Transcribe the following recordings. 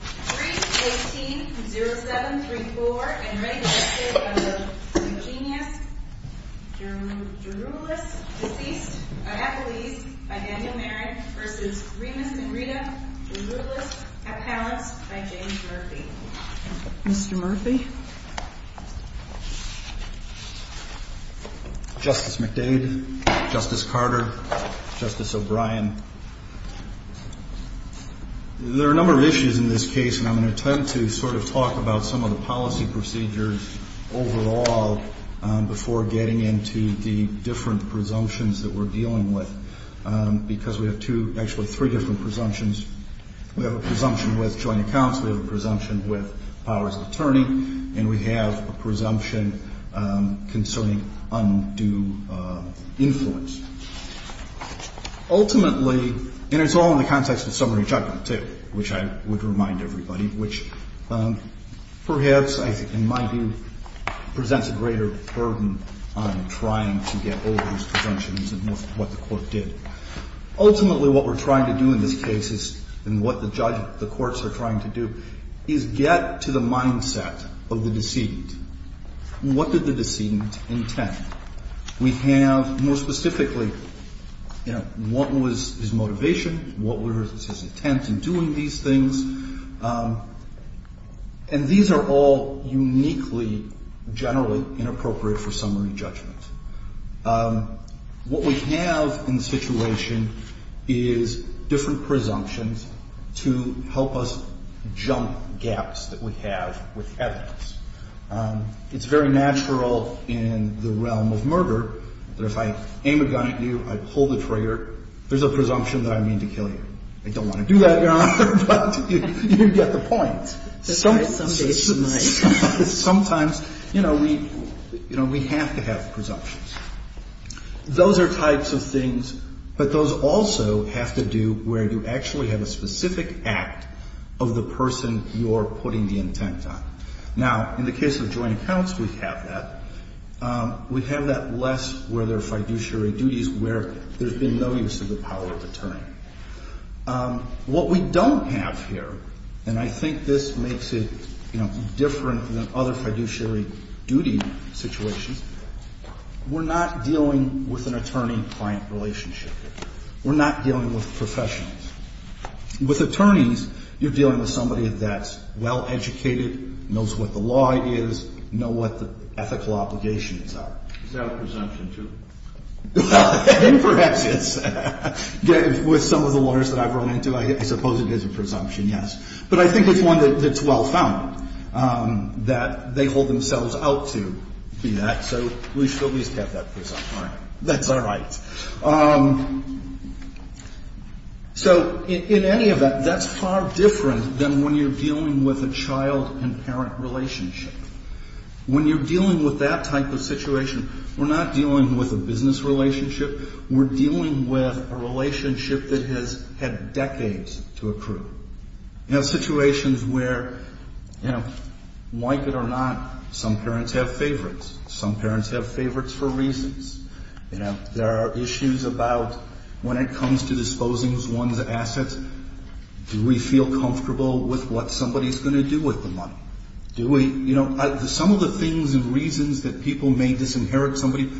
3-18-07-34 and registered under Eugenius Gerulis, deceased at Appalese by Daniel Merrick versus Remus Magrida Gerulis at Pallance by James Murphy Mr. Murphy Justice McDade, Justice Carter, Justice O'Brien There are a number of issues in this case and I'm going to attempt to sort of talk about some of the policy procedures overall before getting into the different presumptions that we're dealing with Because we have two, actually three different presumptions. We have a presumption with joint accounts, we have a presumption with powers of attorney, and we have a presumption concerning undue influence Ultimately, and it's all in the context of summary judgment too, which I would remind everybody, which perhaps in my view presents a greater burden on trying to get over these presumptions and what the court did Ultimately what we're trying to do in this case and what the courts are trying to do is get to the mindset of the decedent What did the decedent intend? We have, more specifically, what was his motivation, what was his intent in doing these things, and these are all uniquely generally inappropriate for summary judgment What we have in the situation is different presumptions to help us jump gaps that we have with evidence It's very natural in the realm of murder that if I aim a gun at you, I pull the trigger, there's a presumption that I mean to kill you I don't want to do that, Your Honor, but you get the point Sometimes we have to have presumptions Those are types of things, but those also have to do where you actually have a specific act of the person you're putting the intent on Now, in the case of joint accounts, we have that We have that less where there are fiduciary duties where there's been no use of the power of attorney What we don't have here, and I think this makes it different than other fiduciary duty situations, we're not dealing with an attorney-client relationship We're not dealing with professionals With attorneys, you're dealing with somebody that's well-educated, knows what the law is, knows what the ethical obligations are Is that a presumption, too? Perhaps it's, with some of the lawyers that I've run into, I suppose it is a presumption, yes But I think it's one that's well-found, that they hold themselves out to be that, so we should at least have that presumption That's all right So, in any event, that's far different than when you're dealing with a child-and-parent relationship When you're dealing with that type of situation, we're not dealing with a business relationship We're dealing with a relationship that has had decades to accrue You know, situations where, like it or not, some parents have favorites Some parents have favorites for reasons You know, there are issues about when it comes to disposing one's assets Do we feel comfortable with what somebody's going to do with the money? Do we, you know, some of the things and reasons that people may disinherit somebody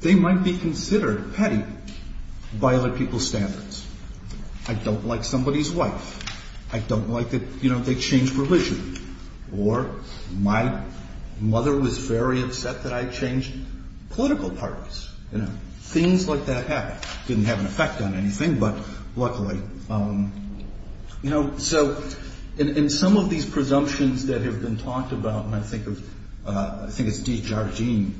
They might be considered petty by other people's standards I don't like somebody's wife I don't like that, you know, they changed religion Or, my mother was very upset that I changed political parties You know, things like that happen Didn't have an effect on anything, but luckily You know, so, in some of these presumptions that have been talked about And I think of, I think it's de Jardin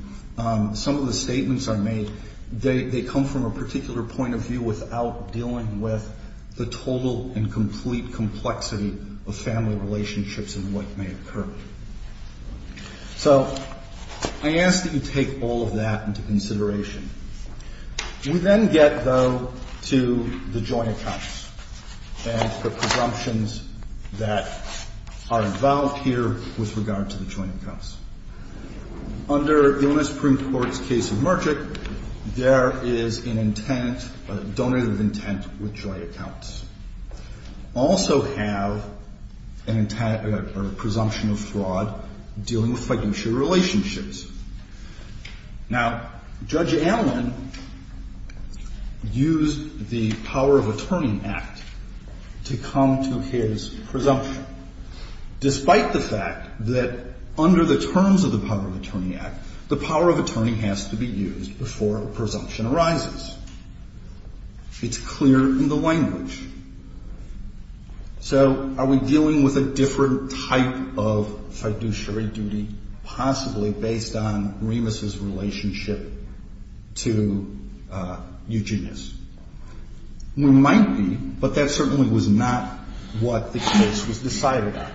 Some of the statements are made, they come from a particular point of view Without dealing with the total and complete complexity of family relationships and what may occur So, I ask that you take all of that into consideration We then get, though, to the joint accounts And the presumptions that are involved here with regard to the joint accounts Under the U.S. Supreme Court's case of Merchick There is an intent, a donated intent with joint accounts Also have a presumption of fraud dealing with financial relationships Now, Judge Allen used the power of attorney act to come to his presumption Despite the fact that under the terms of the power of attorney act The power of attorney has to be used before a presumption arises It's clear in the language So, are we dealing with a different type of fiduciary duty Possibly based on Remus's relationship to Eugenius We might be, but that certainly was not what the case was decided on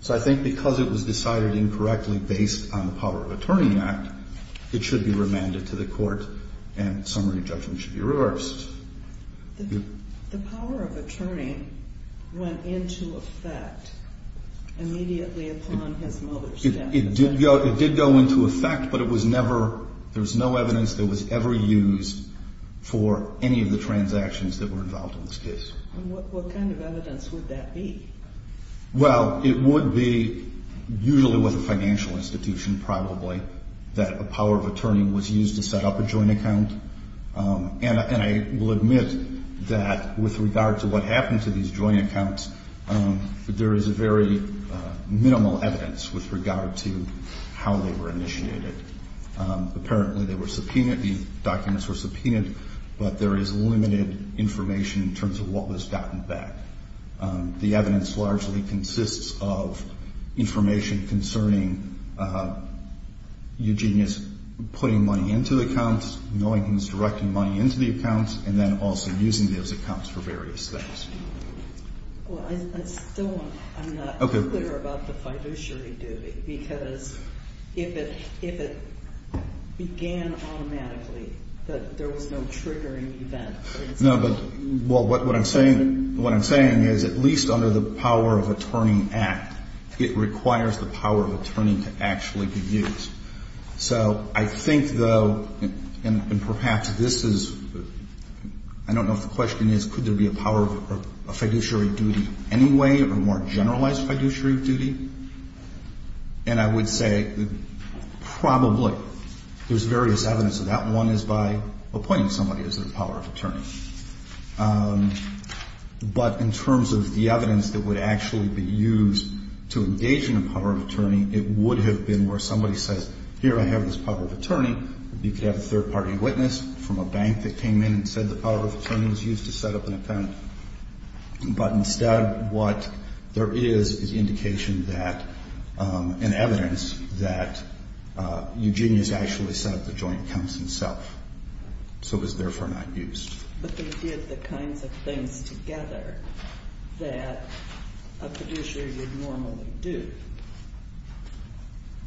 So, I think because it was decided incorrectly based on the power of attorney act It should be remanded to the court and summary judgment should be reversed The power of attorney went into effect immediately upon his mother's death It did go into effect, but it was never There was no evidence that was ever used for any of the transactions that were involved in this case What kind of evidence would that be? Well, it would be usually with a financial institution probably That the power of attorney was used to set up a joint account And I will admit that with regard to what happened to these joint accounts There is very minimal evidence with regard to how they were initiated Apparently they were subpoenaed, the documents were subpoenaed But there is limited information in terms of what was gotten back The evidence largely consists of information concerning Eugenius putting money into accounts Knowing he was directing money into the accounts And then also using those accounts for various things Well, I still am not clear about the fiduciary duty Because if it began automatically, there was no triggering event No, but what I'm saying is at least under the power of attorney act It requires the power of attorney to actually be used So I think though, and perhaps this is I don't know if the question is could there be a fiduciary duty anyway Or a more generalized fiduciary duty And I would say probably there's various evidence of that One is by appointing somebody as the power of attorney But in terms of the evidence that would actually be used to engage in a power of attorney It would have been where somebody says here I have this power of attorney You could have a third party witness from a bank that came in And said the power of attorney was used to set up an account But instead what there is is indication that And evidence that Eugenius actually set up the joint accounts himself So it was therefore not used But they did the kinds of things together that a fiduciary would normally do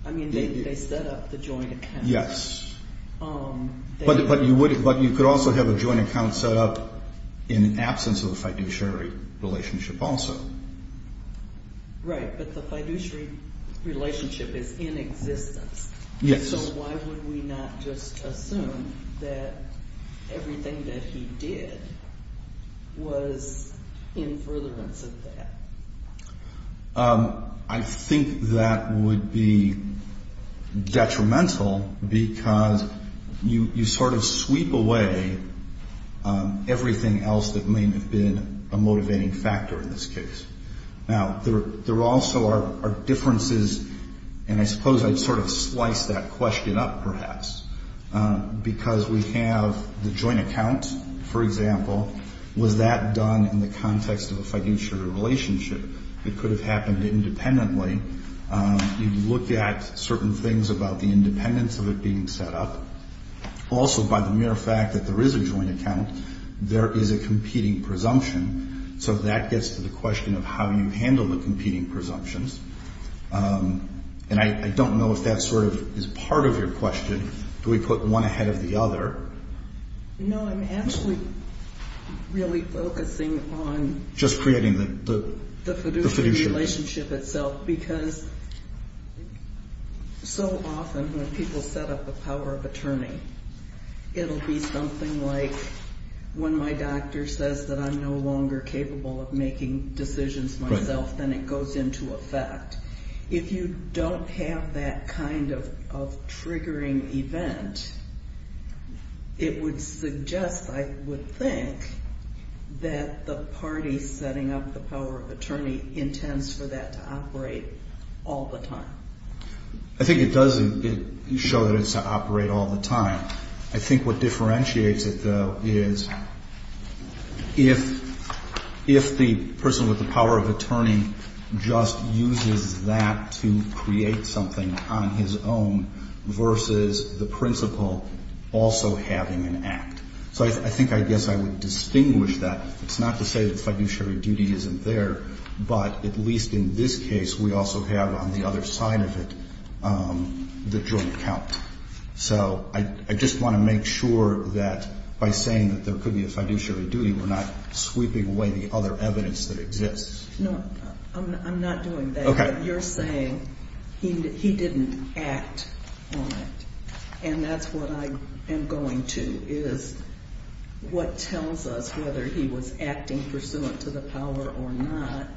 I mean they set up the joint accounts Yes But you could also have a joint account set up in absence of a fiduciary relationship also Right, but the fiduciary relationship is in existence Yes So why would we not just assume that everything that he did was in furtherance of that I think that would be detrimental Because you sort of sweep away everything else that may have been a motivating factor in this case Now there also are differences And I suppose I'd sort of slice that question up perhaps Because we have the joint account for example Was that done in the context of a fiduciary relationship? It could have happened independently You'd look at certain things about the independence of it being set up Also by the mere fact that there is a joint account There is a competing presumption So that gets to the question of how you handle the competing presumptions And I don't know if that sort of is part of your question Do we put one ahead of the other? No, I'm actually really focusing on Just creating the fiduciary relationship itself Because so often when people set up the power of attorney It'll be something like when my doctor says that I'm no longer capable of making decisions myself Then it goes into effect If you don't have that kind of triggering event It would suggest I would think That the party setting up the power of attorney Intends for that to operate all the time I think it does show that it's to operate all the time I think what differentiates it though is If the person with the power of attorney just uses that to create something on his own Versus the principal also having an act So I think I guess I would distinguish that It's not to say that fiduciary duty isn't there But at least in this case we also have on the other side of it The joint account So I just want to make sure that By saying that there could be a fiduciary duty We're not sweeping away the other evidence that exists No, I'm not doing that You're saying he didn't act on it And that's what I am going to Is what tells us whether he was acting pursuant to the power or not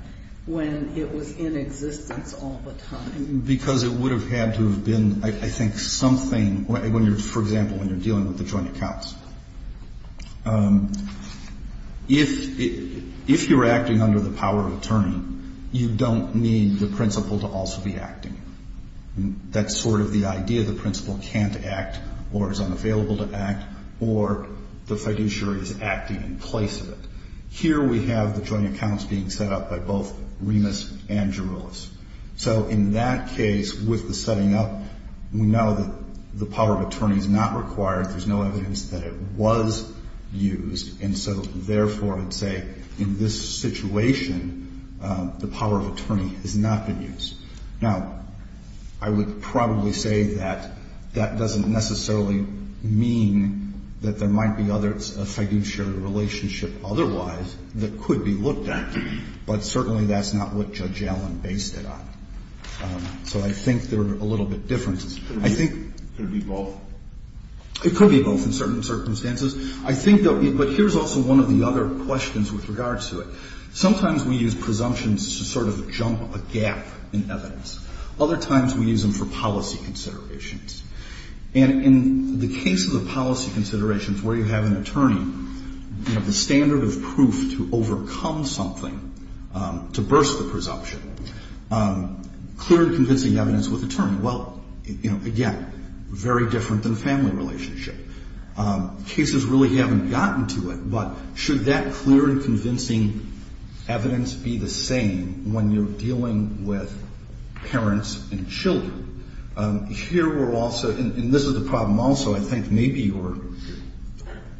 When it was in existence all the time Because it would have had to have been I think something When you're, for example, when you're dealing with the joint accounts If you're acting under the power of attorney You don't need the principal to also be acting That's sort of the idea The principal can't act or is unavailable to act Or the fiduciary is acting in place of it Here we have the joint accounts being set up by both Remus and Jeroulas So in that case with the setting up We know that the power of attorney is not required There's no evidence that it was used And so therefore I'd say In this situation The power of attorney has not been used Now, I would probably say that That doesn't necessarily mean That there might be a fiduciary relationship otherwise That could be looked at But certainly that's not what Judge Allen based it on So I think there are a little bit of differences It could be both It could be both in certain circumstances But here's also one of the other questions with regards to it Sometimes we use presumptions to sort of jump a gap in evidence Other times we use them for policy considerations And in the case of the policy considerations Where you have an attorney You have the standard of proof to overcome something To burst the presumption Clear and convincing evidence with attorney Well, you know, again Very different than a family relationship Cases really haven't gotten to it But should that clear and convincing evidence be the same When you're dealing with parents and children? Here we're also And this is the problem also I think maybe you're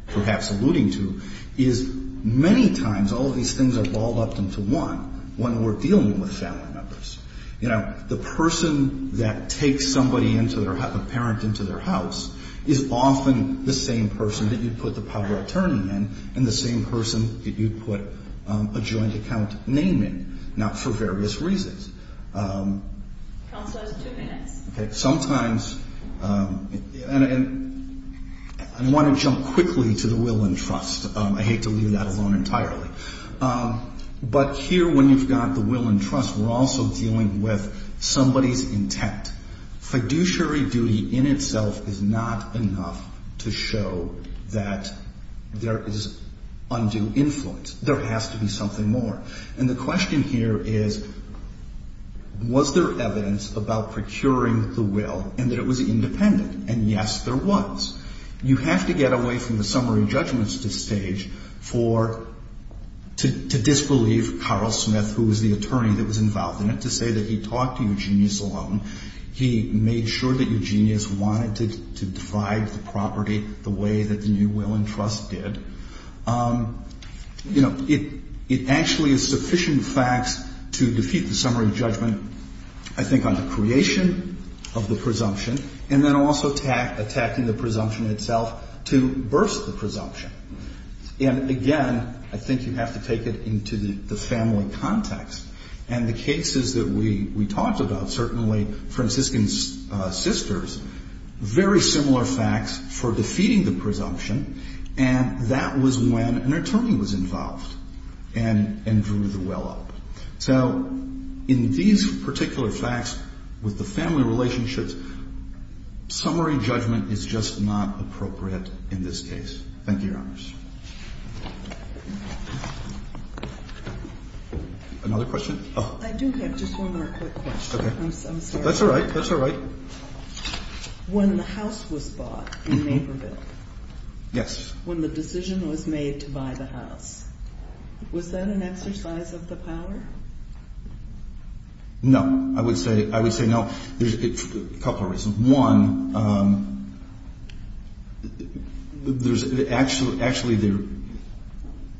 perhaps alluding to Is many times all of these things are balled up into one When we're dealing with family members You know, the person that takes a parent into their house Is often the same person that you put the public attorney in And the same person that you put a joint account name in Now for various reasons Counselor has two minutes Sometimes And I want to jump quickly to the will and trust I hate to leave that alone entirely But here when you've got the will and trust We're also dealing with somebody's intent Fiduciary duty in itself is not enough To show that there is undue influence There has to be something more And the question here is Was there evidence about procuring the will And that it was independent? You have to get away from the summary judgments at this stage To disbelieve Carl Smith Who was the attorney that was involved in it To say that he talked to Eugenius alone He made sure that Eugenius wanted to divide the property The way that the new will and trust did You know, it actually is sufficient facts To defeat the summary judgment I think on the creation of the presumption And then also attacking the presumption itself To burst the presumption And again, I think you have to take it into the family context And the cases that we talked about Certainly, Franciscan sisters Very similar facts for defeating the presumption And that was when an attorney was involved And drew the will up So, in these particular facts With the family relationships Summary judgment is just not appropriate in this case Thank you, your honors Another question? I do have just one more quick question I'm sorry That's alright, that's alright When the house was bought in Naperville Yes When the decision was made to buy the house Was that an exercise of the power? No, I would say no There's a couple of reasons One Actually,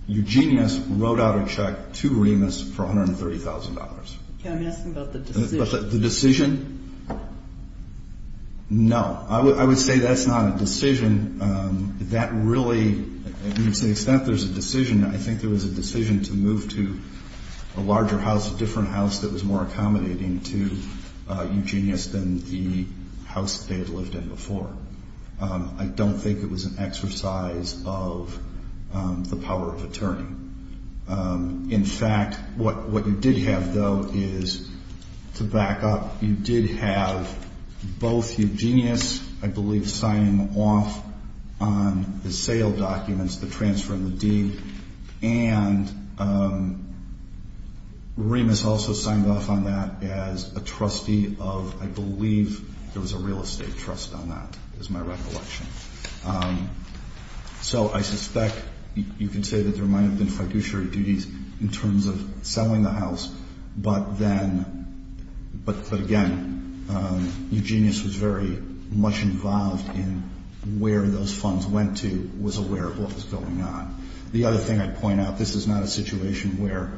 Eugenius wrote out a check to Remus For $130,000 Can I ask about the decision? The decision? No I would say that's not a decision That really, to the extent there's a decision I think there was a decision to move to a larger house A different house that was more accommodating to Eugenius Than the house they had lived in before I don't think it was an exercise of the power of attorney In fact, what you did have though Is, to back up You did have both Eugenius I believe signing off on the sale documents The transfer and the deed And Remus also signed off on that As a trustee of, I believe There was a real estate trust on that Is my recollection So I suspect You can say that there might have been fiduciary duties In terms of selling the house But then But again Eugenius was very much involved in Where those funds went to Was aware of what was going on The other thing I'd point out This is not a situation where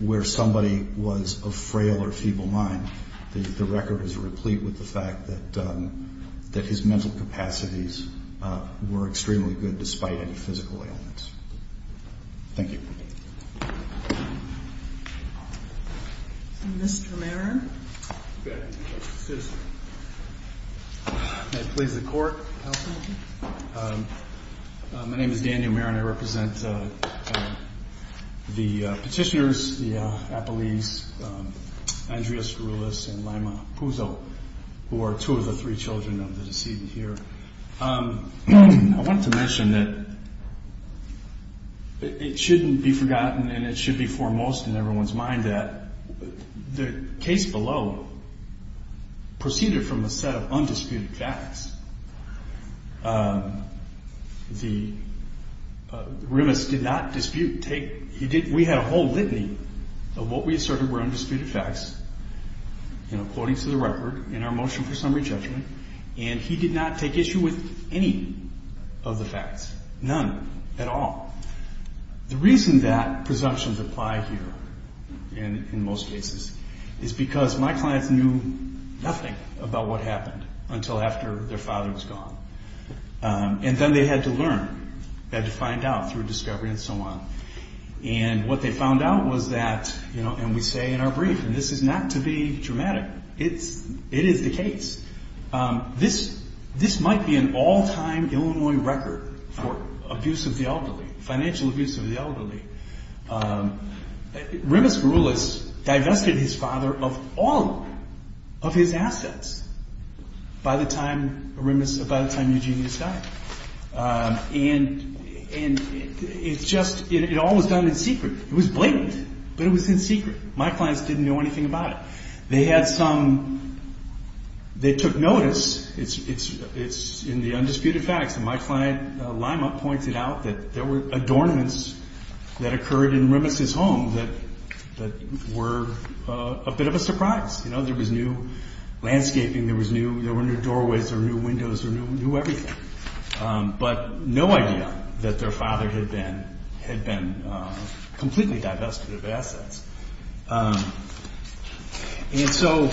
Where somebody was of frail or feeble mind The record is replete with the fact that That his mental capacities were extremely good Despite any physical ailments Thank you Mr. Marron May it please the court My name is Daniel Marron And I represent The petitioners The Appellees Andrea Skouroulis and Lama Puzo Who are two of the three children of the deceased here I wanted to mention that It shouldn't be forgotten And it should be foremost in everyone's mind that The case below Proceeded from a set of undisputed facts The Remus did not dispute We had a whole litany Of what we asserted were undisputed facts You know, quoting to the record In our motion for summary judgment And he did not take issue with any of the facts None at all The reason that Presumptions apply here In most cases Is because my clients knew nothing About what happened Until after their father was gone And then they had to learn They had to find out through discovery and so on And what they found out was that You know, and we say in our brief And this is not to be dramatic It is the case This might be an all-time Illinois record For abuse of the elderly Financial abuse of the elderly Remus Skouroulis Divested his father of all Of his assets By the time Remus By the time Eugenius died And it's just It all was done in secret It was blatant, but it was in secret My clients didn't know anything about it They had some They took notice It's in the undisputed facts And my client Lima pointed out That there were adornments That occurred in Remus's home That were a bit of a surprise There was new landscaping There were new doorways There were new windows There were new everything But no idea that their father Had been completely divested of assets And so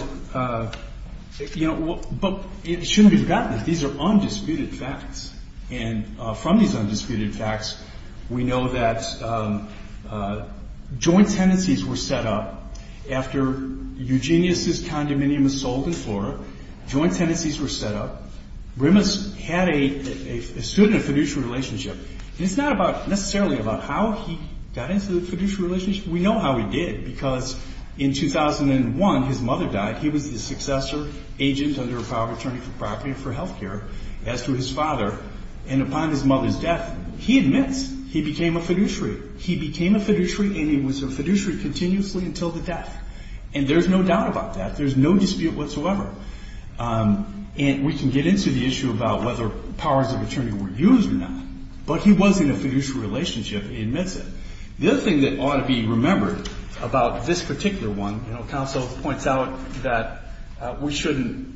You know But it shouldn't be forgotten That these are undisputed facts We know that Joint tenancies were set up After Eugenius died Remus's condominium was sold in Flora Joint tenancies were set up Remus had a Stood in a fiduciary relationship And it's not necessarily about how he Got into the fiduciary relationship We know how he did Because in 2001 his mother died He was the successor agent Under a power of attorney for property and for health care As to his father And upon his mother's death He admits he became a fiduciary He became a fiduciary And he was a fiduciary continuously until the death And there's no doubt about that There's no dispute whatsoever And we can get into the issue About whether powers of attorney were used or not But he was in a fiduciary relationship He admits it The other thing that ought to be remembered About this particular one Counsel points out that We shouldn't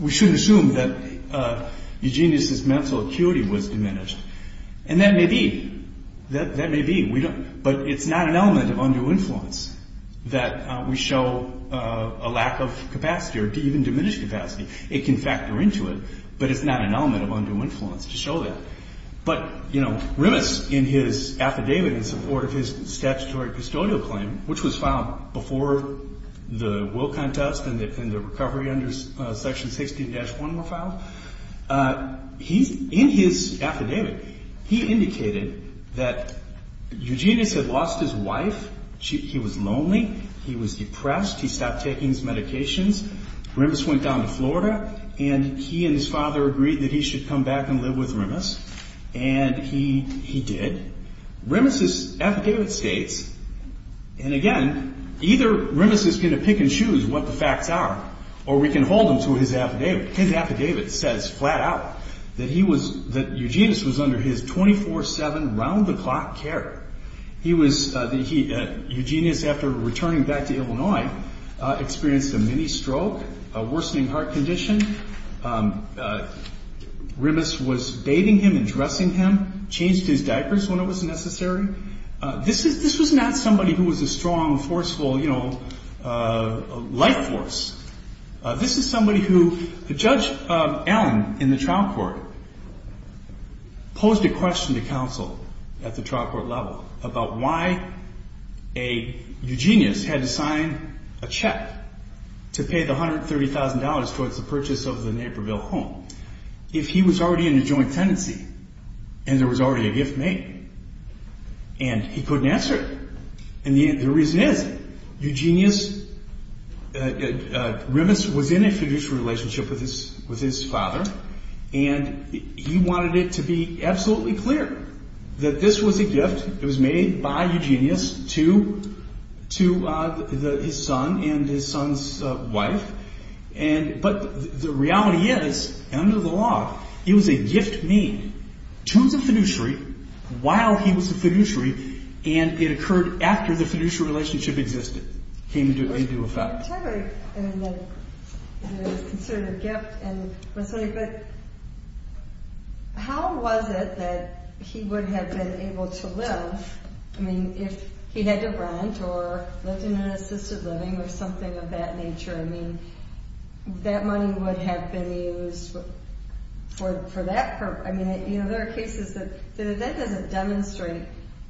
We shouldn't assume that Eugenius's mental acuity was diminished And that may be That may be But it's not an element of undue influence That we show A lack of capacity Or even diminished capacity It can factor into it But it's not an element of undue influence to show that But you know Remus in his affidavit In support of his statutory custodial claim Which was filed before the will contest And the recovery under section 16-1 Were filed In his affidavit He indicated that Eugenius had lost his wife He was lonely He was depressed He stopped taking his medications Remus went down to Florida And he and his father agreed That he should come back and live with Remus And he did Remus's affidavit states And again Either Remus is going to pick and choose What the facts are Or we can hold him to his affidavit His affidavit says flat out That Eugenius was under his 24-7 Round-the-clock care He was Eugenius after returning Back to Illinois Experienced a mini-stroke A worsening heart condition Remus was Bathing him and dressing him Changed his diapers when it was necessary This was not somebody Who was a strong, forceful Life force This is somebody who Judge Allen In the trial court Posed a question to counsel At the trial court level About why Eugenius had to sign a check To pay the $130,000 Towards the purchase of the Naperville home If he was already in a joint tenancy And there was already a gift made And he couldn't answer it And the reason is Eugenius Remus was in a fiduciary Relationship with his father And he wanted it To be absolutely clear That this was a gift It was made by Eugenius To his son And his son's wife But the reality is Under the law It was a gift made To the fiduciary While he was a fiduciary And it occurred after The fiduciary relationship existed It came into effect It was considered a gift But How was it That he would have been Able to live If he had to rent Or lived in an assisted living Or something of that nature That money would have been used For that purpose There are cases That doesn't demonstrate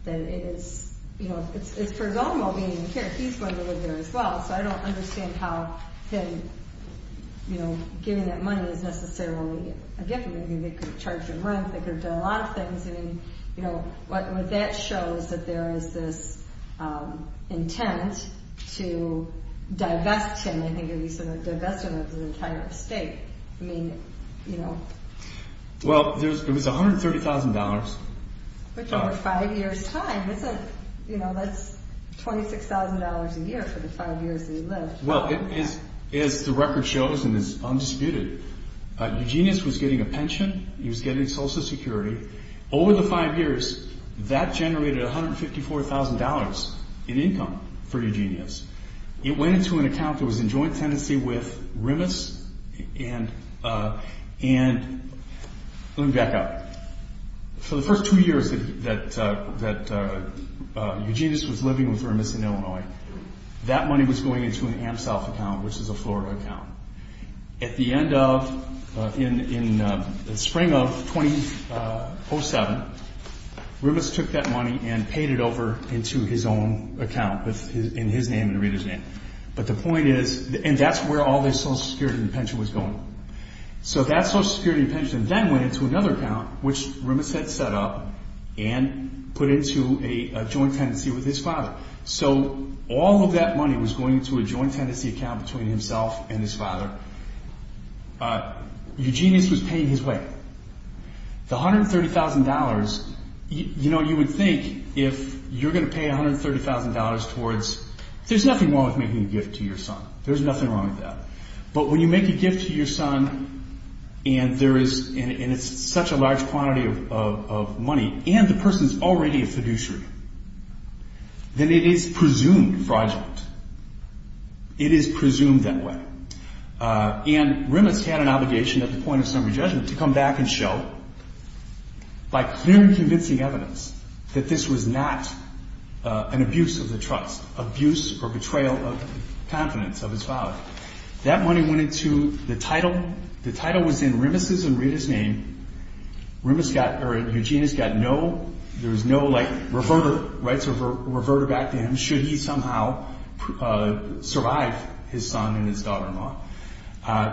That it is It's presumable He's going to live there as well So I don't understand how Giving that money is necessarily A gift They could have charged him rent They could have done a lot of things What that shows is that there is this Intent to Divest him Divest him of the entire estate I mean Well It was $130,000 Which over 5 years time That's $26,000 a year For the 5 years that he lived As the record shows And is undisputed Eugenius was getting a pension He was getting social security Over the 5 years That generated $154,000 In income for Eugenius It went into an account That was in joint tenancy with Remus And Let me back up For the first 2 years That Eugenius was living with Remus In Illinois That money was going into an AmSouth account Which is a Florida account At the end of In the spring of 2007 Remus took that money and paid it over Into his own account In his name and the reader's name But the point is And that's where all this social security and pension was going So that social security and pension Then went into another account Which Remus had set up And put into a joint tenancy With his father So all of that money was going into a joint tenancy Account between himself and his father Eugenius Was paying his way The $130,000 You know you would think If you're going to pay $130,000 Towards There's nothing wrong with making a gift to your son There's nothing wrong with that But when you make a gift to your son And it's such a large quantity Of money And the person is already a fiduciary Then it is presumed fraudulent It is presumed that way And Remus had an obligation At the point of summary judgment To come back and show By clear and convincing evidence That this was not An abuse of the trust Abuse or betrayal of Confidence of his father That money went into the title The title was in Remus' and reader's name Remus got Or Eugenius got no There was no like reverter So reverter back to him Should he somehow survive His son and his daughter-in-law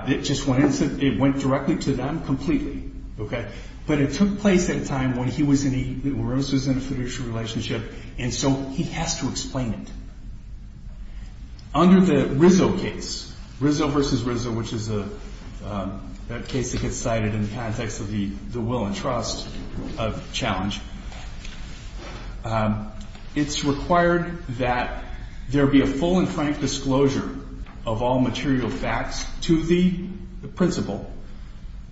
It just went It went directly to them Completely But it took place at a time when he was In a fiduciary relationship And so he has to explain it Under the Rizzo case Rizzo versus Rizzo Which is a case that gets Cited in the context of the Will and trust challenge It's required that There be a full and frank Disclosure of all material Facts to the principal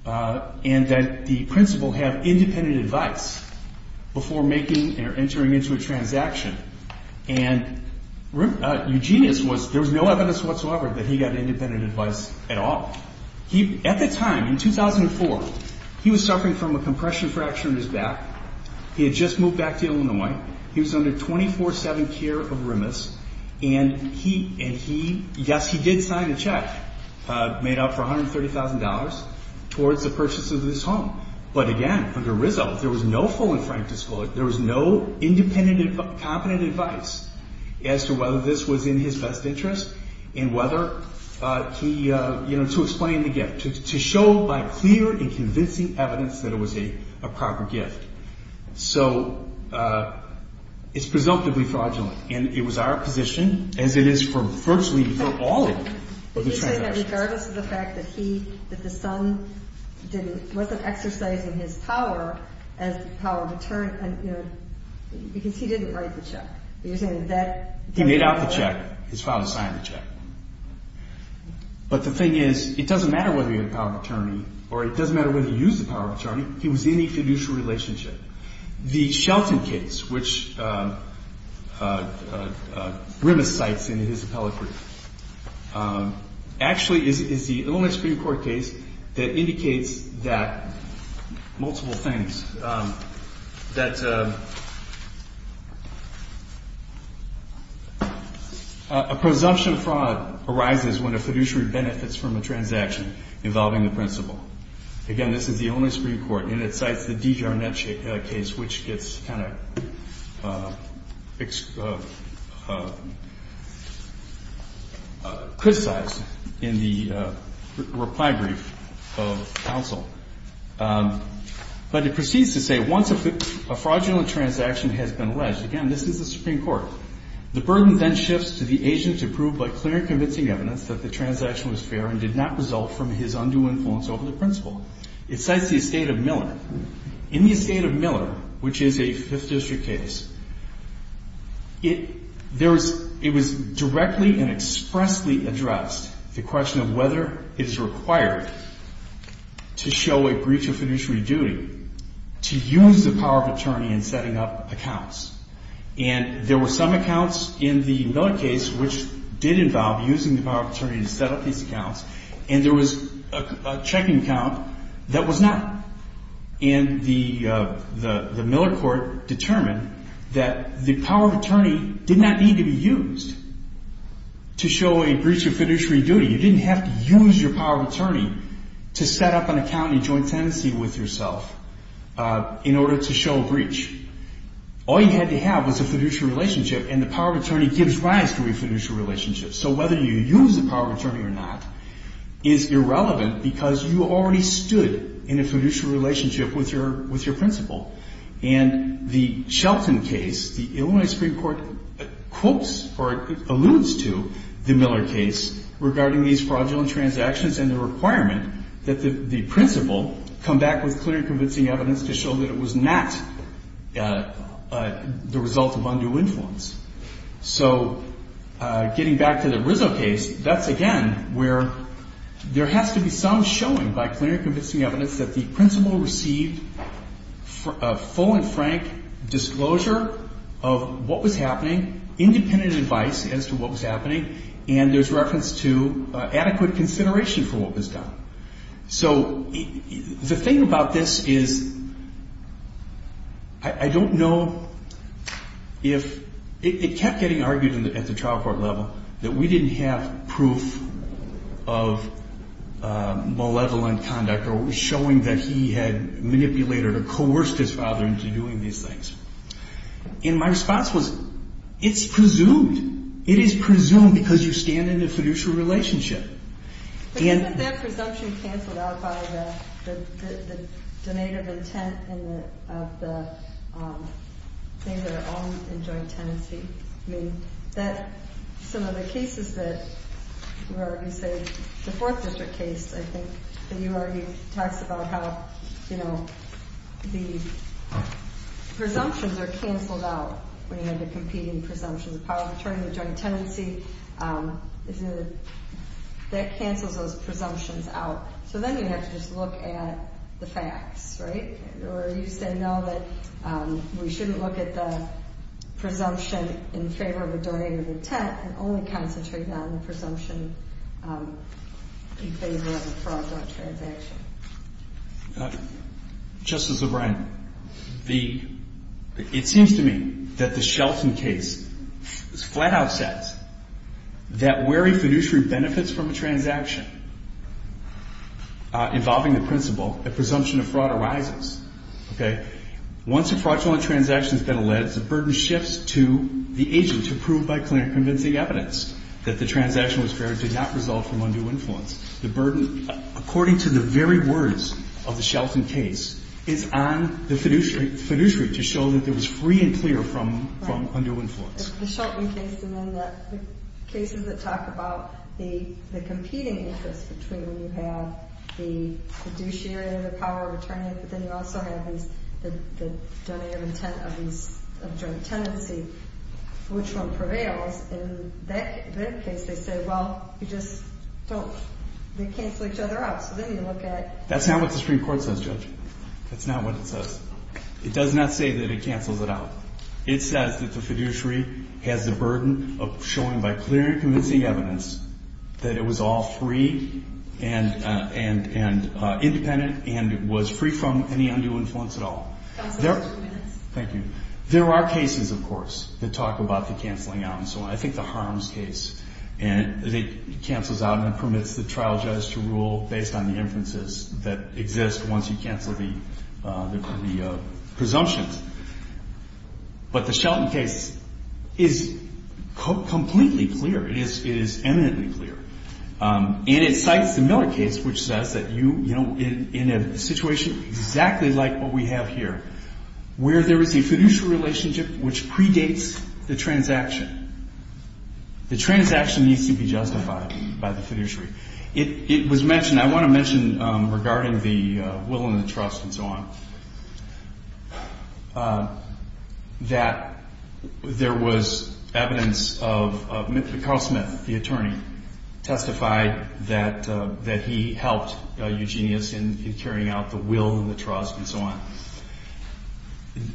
And that the Principal have independent Advice before making Or entering into a transaction And Eugenius Was there was no evidence whatsoever That he got independent advice at all He at the time in 2004 He was suffering from a Compression fracture in his back He had just moved back to Illinois He was under 24-7 care of Remus And he Yes he did sign a check Made up for $130,000 Towards the purchase of this home But again under Rizzo There was no full and frank disclosure There was no independent Advice as to whether this was In his best interest And whether To explain the gift To show by clear and convincing evidence That it was a proper gift So It's presumptively fraudulent And it was our position As it is for virtually for all Of the transactions Regardless of the fact that he That the son Wasn't exercising his power As the power of attorney Because he didn't write the check He made out the check His father signed the check But the thing is It doesn't matter whether he had the power of attorney Or it doesn't matter whether he used the power of attorney He was in a fiduciary relationship The Shelton case Which Grimace cites in his appellate brief Actually is the only Supreme Court case That indicates that Multiple things That A presumption of fraud Arises when a fiduciary benefits from a transaction Involving the principal Again this is the only Supreme Court And it cites the D.J. Arnett case Which gets kind of Criticized In the reply brief Of counsel But it proceeds to say Once a fraudulent transaction Has been alleged Again this is the Supreme Court The burden then shifts to the agent To prove by clear and convincing evidence That the transaction was fair And did not result from his undue influence Over the principal It cites the estate of Miller In the estate of Miller Which is a 5th district case It was directly And expressly addressed The question of whether It is required To show a breach of fiduciary duty To use the power of attorney In setting up accounts And there were some accounts In the Miller case Which did involve Using the power of attorney To set up these accounts And there was a checking account That was not And the Miller court Determined that the power of attorney Did not need to be used To show a breach of fiduciary duty You didn't have to use your power of attorney To set up an account In joint tenancy with yourself In order to show a breach All you had to have Is a fiduciary relationship And the power of attorney gives rise To a fiduciary relationship So whether you use the power of attorney Or not is irrelevant Because you already stood In a fiduciary relationship With your principal And the Shelton case The Illinois Supreme Court Alludes to the Miller case Regarding these fraudulent transactions And the requirement That the principal Come back with clear and convincing evidence To show that it was not The result of undue influence So Getting back to the Rizzo case That's again where There has to be some showing By clear and convincing evidence That the principal received Full and frank disclosure Of what was happening Independent advice as to what was happening And there's reference to Adequate consideration for what was done So The thing about this is I don't know If It kept getting argued At the trial court level That we didn't have proof Of malevolent conduct Or showing that he had Manipulated or coerced his father Into doing these things And my response was It's presumed It is presumed because you stand In a fiduciary relationship But isn't that presumption cancelled out By the Donate of intent Of the Things that are owned in joint tenancy I mean Some of the cases that The Fourth District case I think that you already Talked about how The Presumptions are cancelled out When you have the competing presumptions The power of attorney in the joint tenancy That cancels those presumptions out So then you have to just look at The facts, right? Or you say no, that We shouldn't look at the Presumption in favour of a donated intent And only concentrate on the Presumption In favour of a fraudulent transaction Justice O'Brien The It seems to me That the Shelton case Flat out says That where a fiduciary benefits from a transaction Involving the principal A presumption of fraud arises Once a fraudulent transaction has been alleged The burden shifts to The agent to prove by convincing evidence That the transaction was fair Did not result from undue influence The burden, according to the very words Of the Shelton case Is on the fiduciary To show that it was free and clear From undue influence The Shelton case And then the cases that talk about The competing interest between When you have the fiduciary And the power of attorney But then you also have the Donated intent of joint tenancy Which one prevails In their case they say Well, you just don't They cancel each other out So then you look at That's not what the Supreme Court says, Judge That's not what it says It does not say that it cancels it out It says that the fiduciary Has the burden of showing by clear and convincing evidence That it was all free And independent And was free from Any undue influence at all Thank you There are cases, of course That talk about the canceling out And so I think the harms case And it cancels out And permits the trial judge to rule Based on the inferences that exist Once you cancel the The presumptions But the Shelton case Is Completely clear It is eminently clear And it cites the Miller case Which says that you In a situation exactly like what we have here Where there is a fiduciary relationship Which predates the transaction The transaction needs to be justified By the fiduciary It was mentioned I want to mention regarding the Will and the trust and so on That There was Evidence of Carl Smith, the attorney Testified that He helped Eugenius In carrying out the will and the trust And so on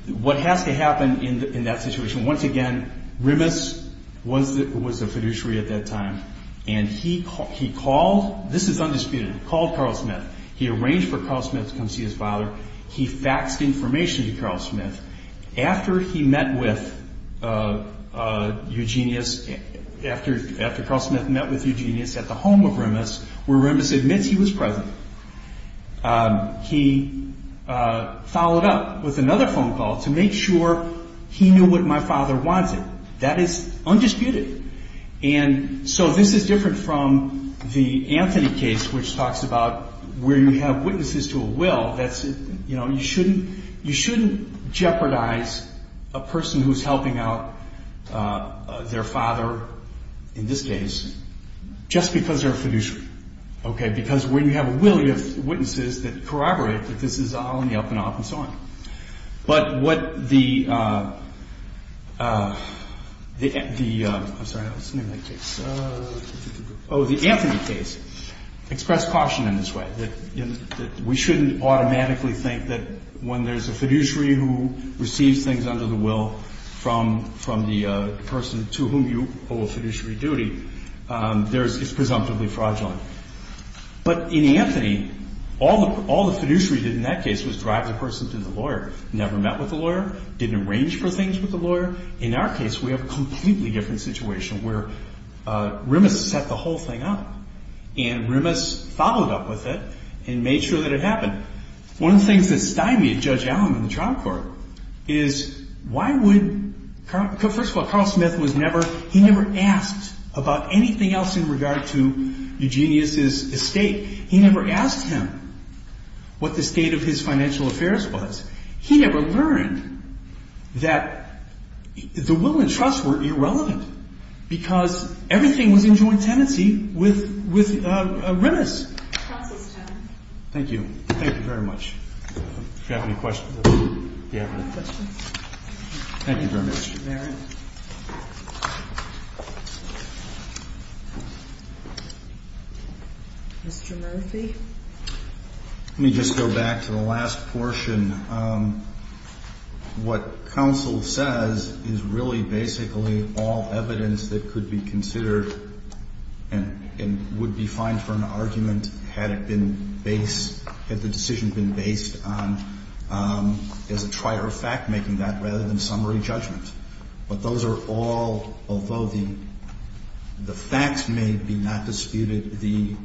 What has to happen in that situation Once again, Remus Was the fiduciary at that time And he called This is undisputed, he called Carl Smith He arranged for Carl Smith to come see his father He faxed information To Carl Smith After he met with Eugenius After Carl Smith met with Eugenius At the home of Remus Where Remus admits he was present He Followed up with another phone call To make sure he knew what my father Wanted That is undisputed And so this is different from The Anthony case which talks about Where you have witnesses to a will You shouldn't Jeopardize A person who is helping out Their father In this case Just because they're a fiduciary Because when you have a will You have witnesses that corroborate That this is all in the up and up And so on But what the The I'm sorry The Anthony case Expressed caution in this way That we shouldn't automatically think That when there's a fiduciary Who receives things under the will From the person To whom you owe a fiduciary duty It's presumptively fraudulent But in Anthony All the fiduciary did in that case Was drive the person to the lawyer Never met with the lawyer Didn't arrange for things with the lawyer In our case we have a completely different situation Where Remus set the whole thing up And Remus Followed up with it And made sure that it happened One of the things that stymied Judge Allen In the trial court Is why would First of all Carl Smith He never asked about anything else In regard to Eugenius' estate He never asked him What the state of his financial affairs was He never learned That The will and trust were irrelevant Because Everything was in joint tenancy With Remus Thank you Thank you very much If you have any questions Thank you very much Mr. Murphy Let me just go back To the last portion What Counsel says is really Basically all evidence that could be Considered and Would be fine for an argument Had it been based Had the decision been based on As a trier of fact Making that rather than summary judgment But those are all Although the Facts may be not disputed The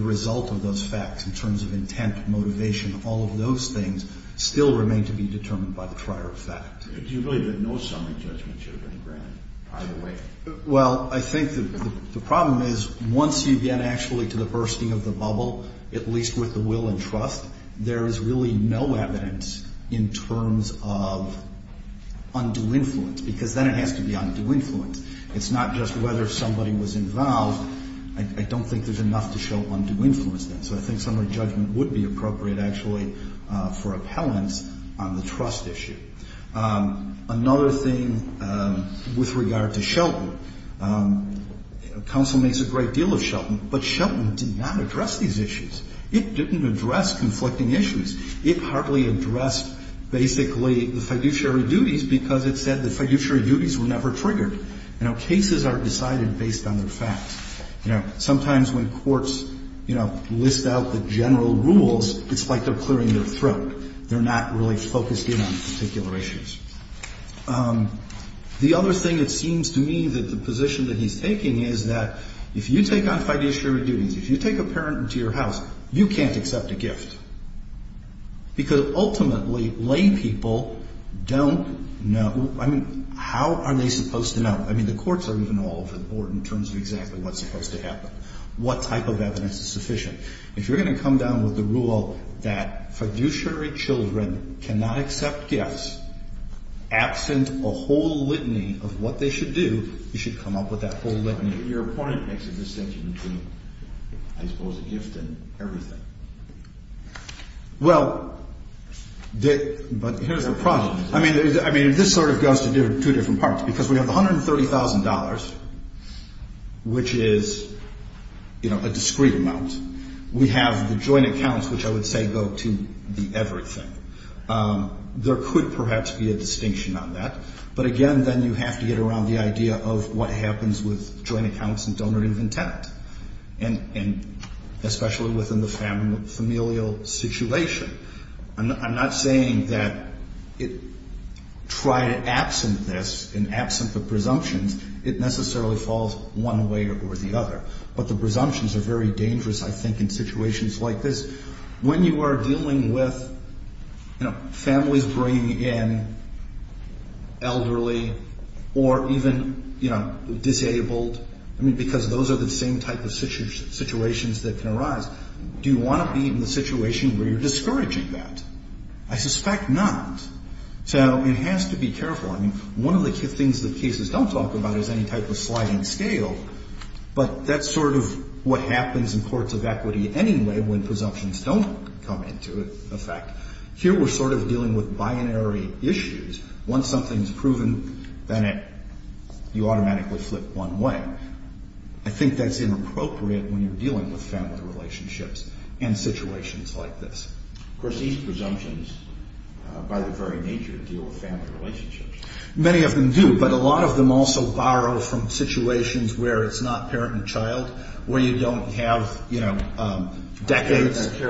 result of those facts In terms of intent, motivation All of those things Still remain to be determined by the trier of fact Do you believe that no summary judgment Should have been granted either way Well I think the problem is Once you get actually to the bursting of the bubble At least with the will and trust There is really no evidence In terms of Undue influence Because then it has to be undue influence It's not just whether somebody was involved I don't think there's enough to show Undue influence So I think summary judgment would be appropriate actually For appellants On the trust issue Another thing With regard to Shelton Counsel makes a great deal of Shelton But Shelton did not address these issues It didn't address conflicting issues It hardly addressed Basically the fiduciary duties Because it said the fiduciary duties Were never triggered Cases are decided based on their facts Sometimes when courts List out the general rules It's like they're clearing their throat They're not really focused in on Particular issues The other thing it seems to me That the position that he's taking is That if you take on fiduciary duties If you take a parent into your house You can't accept a gift Because ultimately Lay people don't know How are they supposed to know? I mean the courts are even all over the board In terms of exactly what's supposed to happen What type of evidence is sufficient If you're going to come down with the rule That fiduciary children Cannot accept gifts Absent a whole litany Of what they should do You should come up with that whole litany Your point makes a distinction between I suppose a gift and everything Well But here's the problem I mean this sort of goes to two different parts Because we have $130,000 Which is You know A discrete amount We have the joint accounts which I would say go to The everything There could perhaps be a distinction on that But again then you have to get around The idea of what happens with Joint accounts and donorative intent And especially Within the familial situation I'm not saying That Try to absent this Absent the presumptions It necessarily falls one way or the other But the presumptions are very dangerous I think in situations like this When you are dealing with Families bringing in Elderly Or even Disabled Because those are the same type of situations That can arise Do you want to be in the situation Where you're discouraging that I suspect not So it has to be careful One of the things that cases don't talk about Is any type of sliding scale But that's sort of what happens In courts of equity anyway When presumptions don't come into effect Here we're sort of dealing with Binary issues Once something's proven Then you automatically flip one way I think that's inappropriate When you're dealing with family relationships And situations like this Of course these presumptions By their very nature deal with family relationships Many of them do But a lot of them also borrow from Situations where it's not parent and child Where you don't have Decades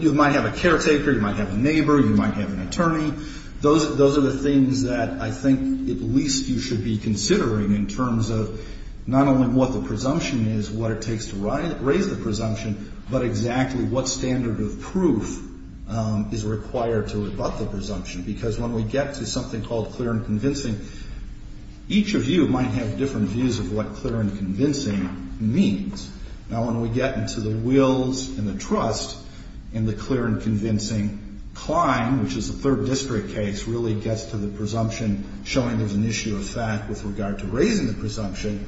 You might have a caretaker You might have a neighbor You might have an attorney Those are the things that I think At least you should be considering In terms of not only what the presumption is What it takes to raise the presumption But exactly what standard of proof Is required To rebut the presumption Because when we get to something called clear and convincing Each of you might have Different views of what clear and convincing Means Now when we get into the wills and the trust And the clear and convincing Climb Which is a third district case Really gets to the presumption Showing there's an issue of fact with regard to raising the presumption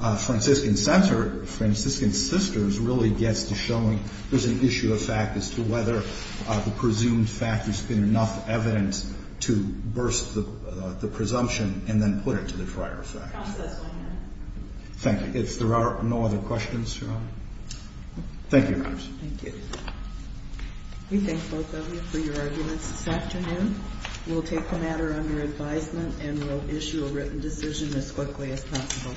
And then Franciscan Sisters Really gets to showing there's an issue of fact As to whether the presumed fact Has been enough evidence To burst the presumption And then put it to the prior effect Thank you If there are no other questions Thank you Thank you We thank both of you for your arguments this afternoon We'll take the matter under advisement And we'll issue a written decision Thank you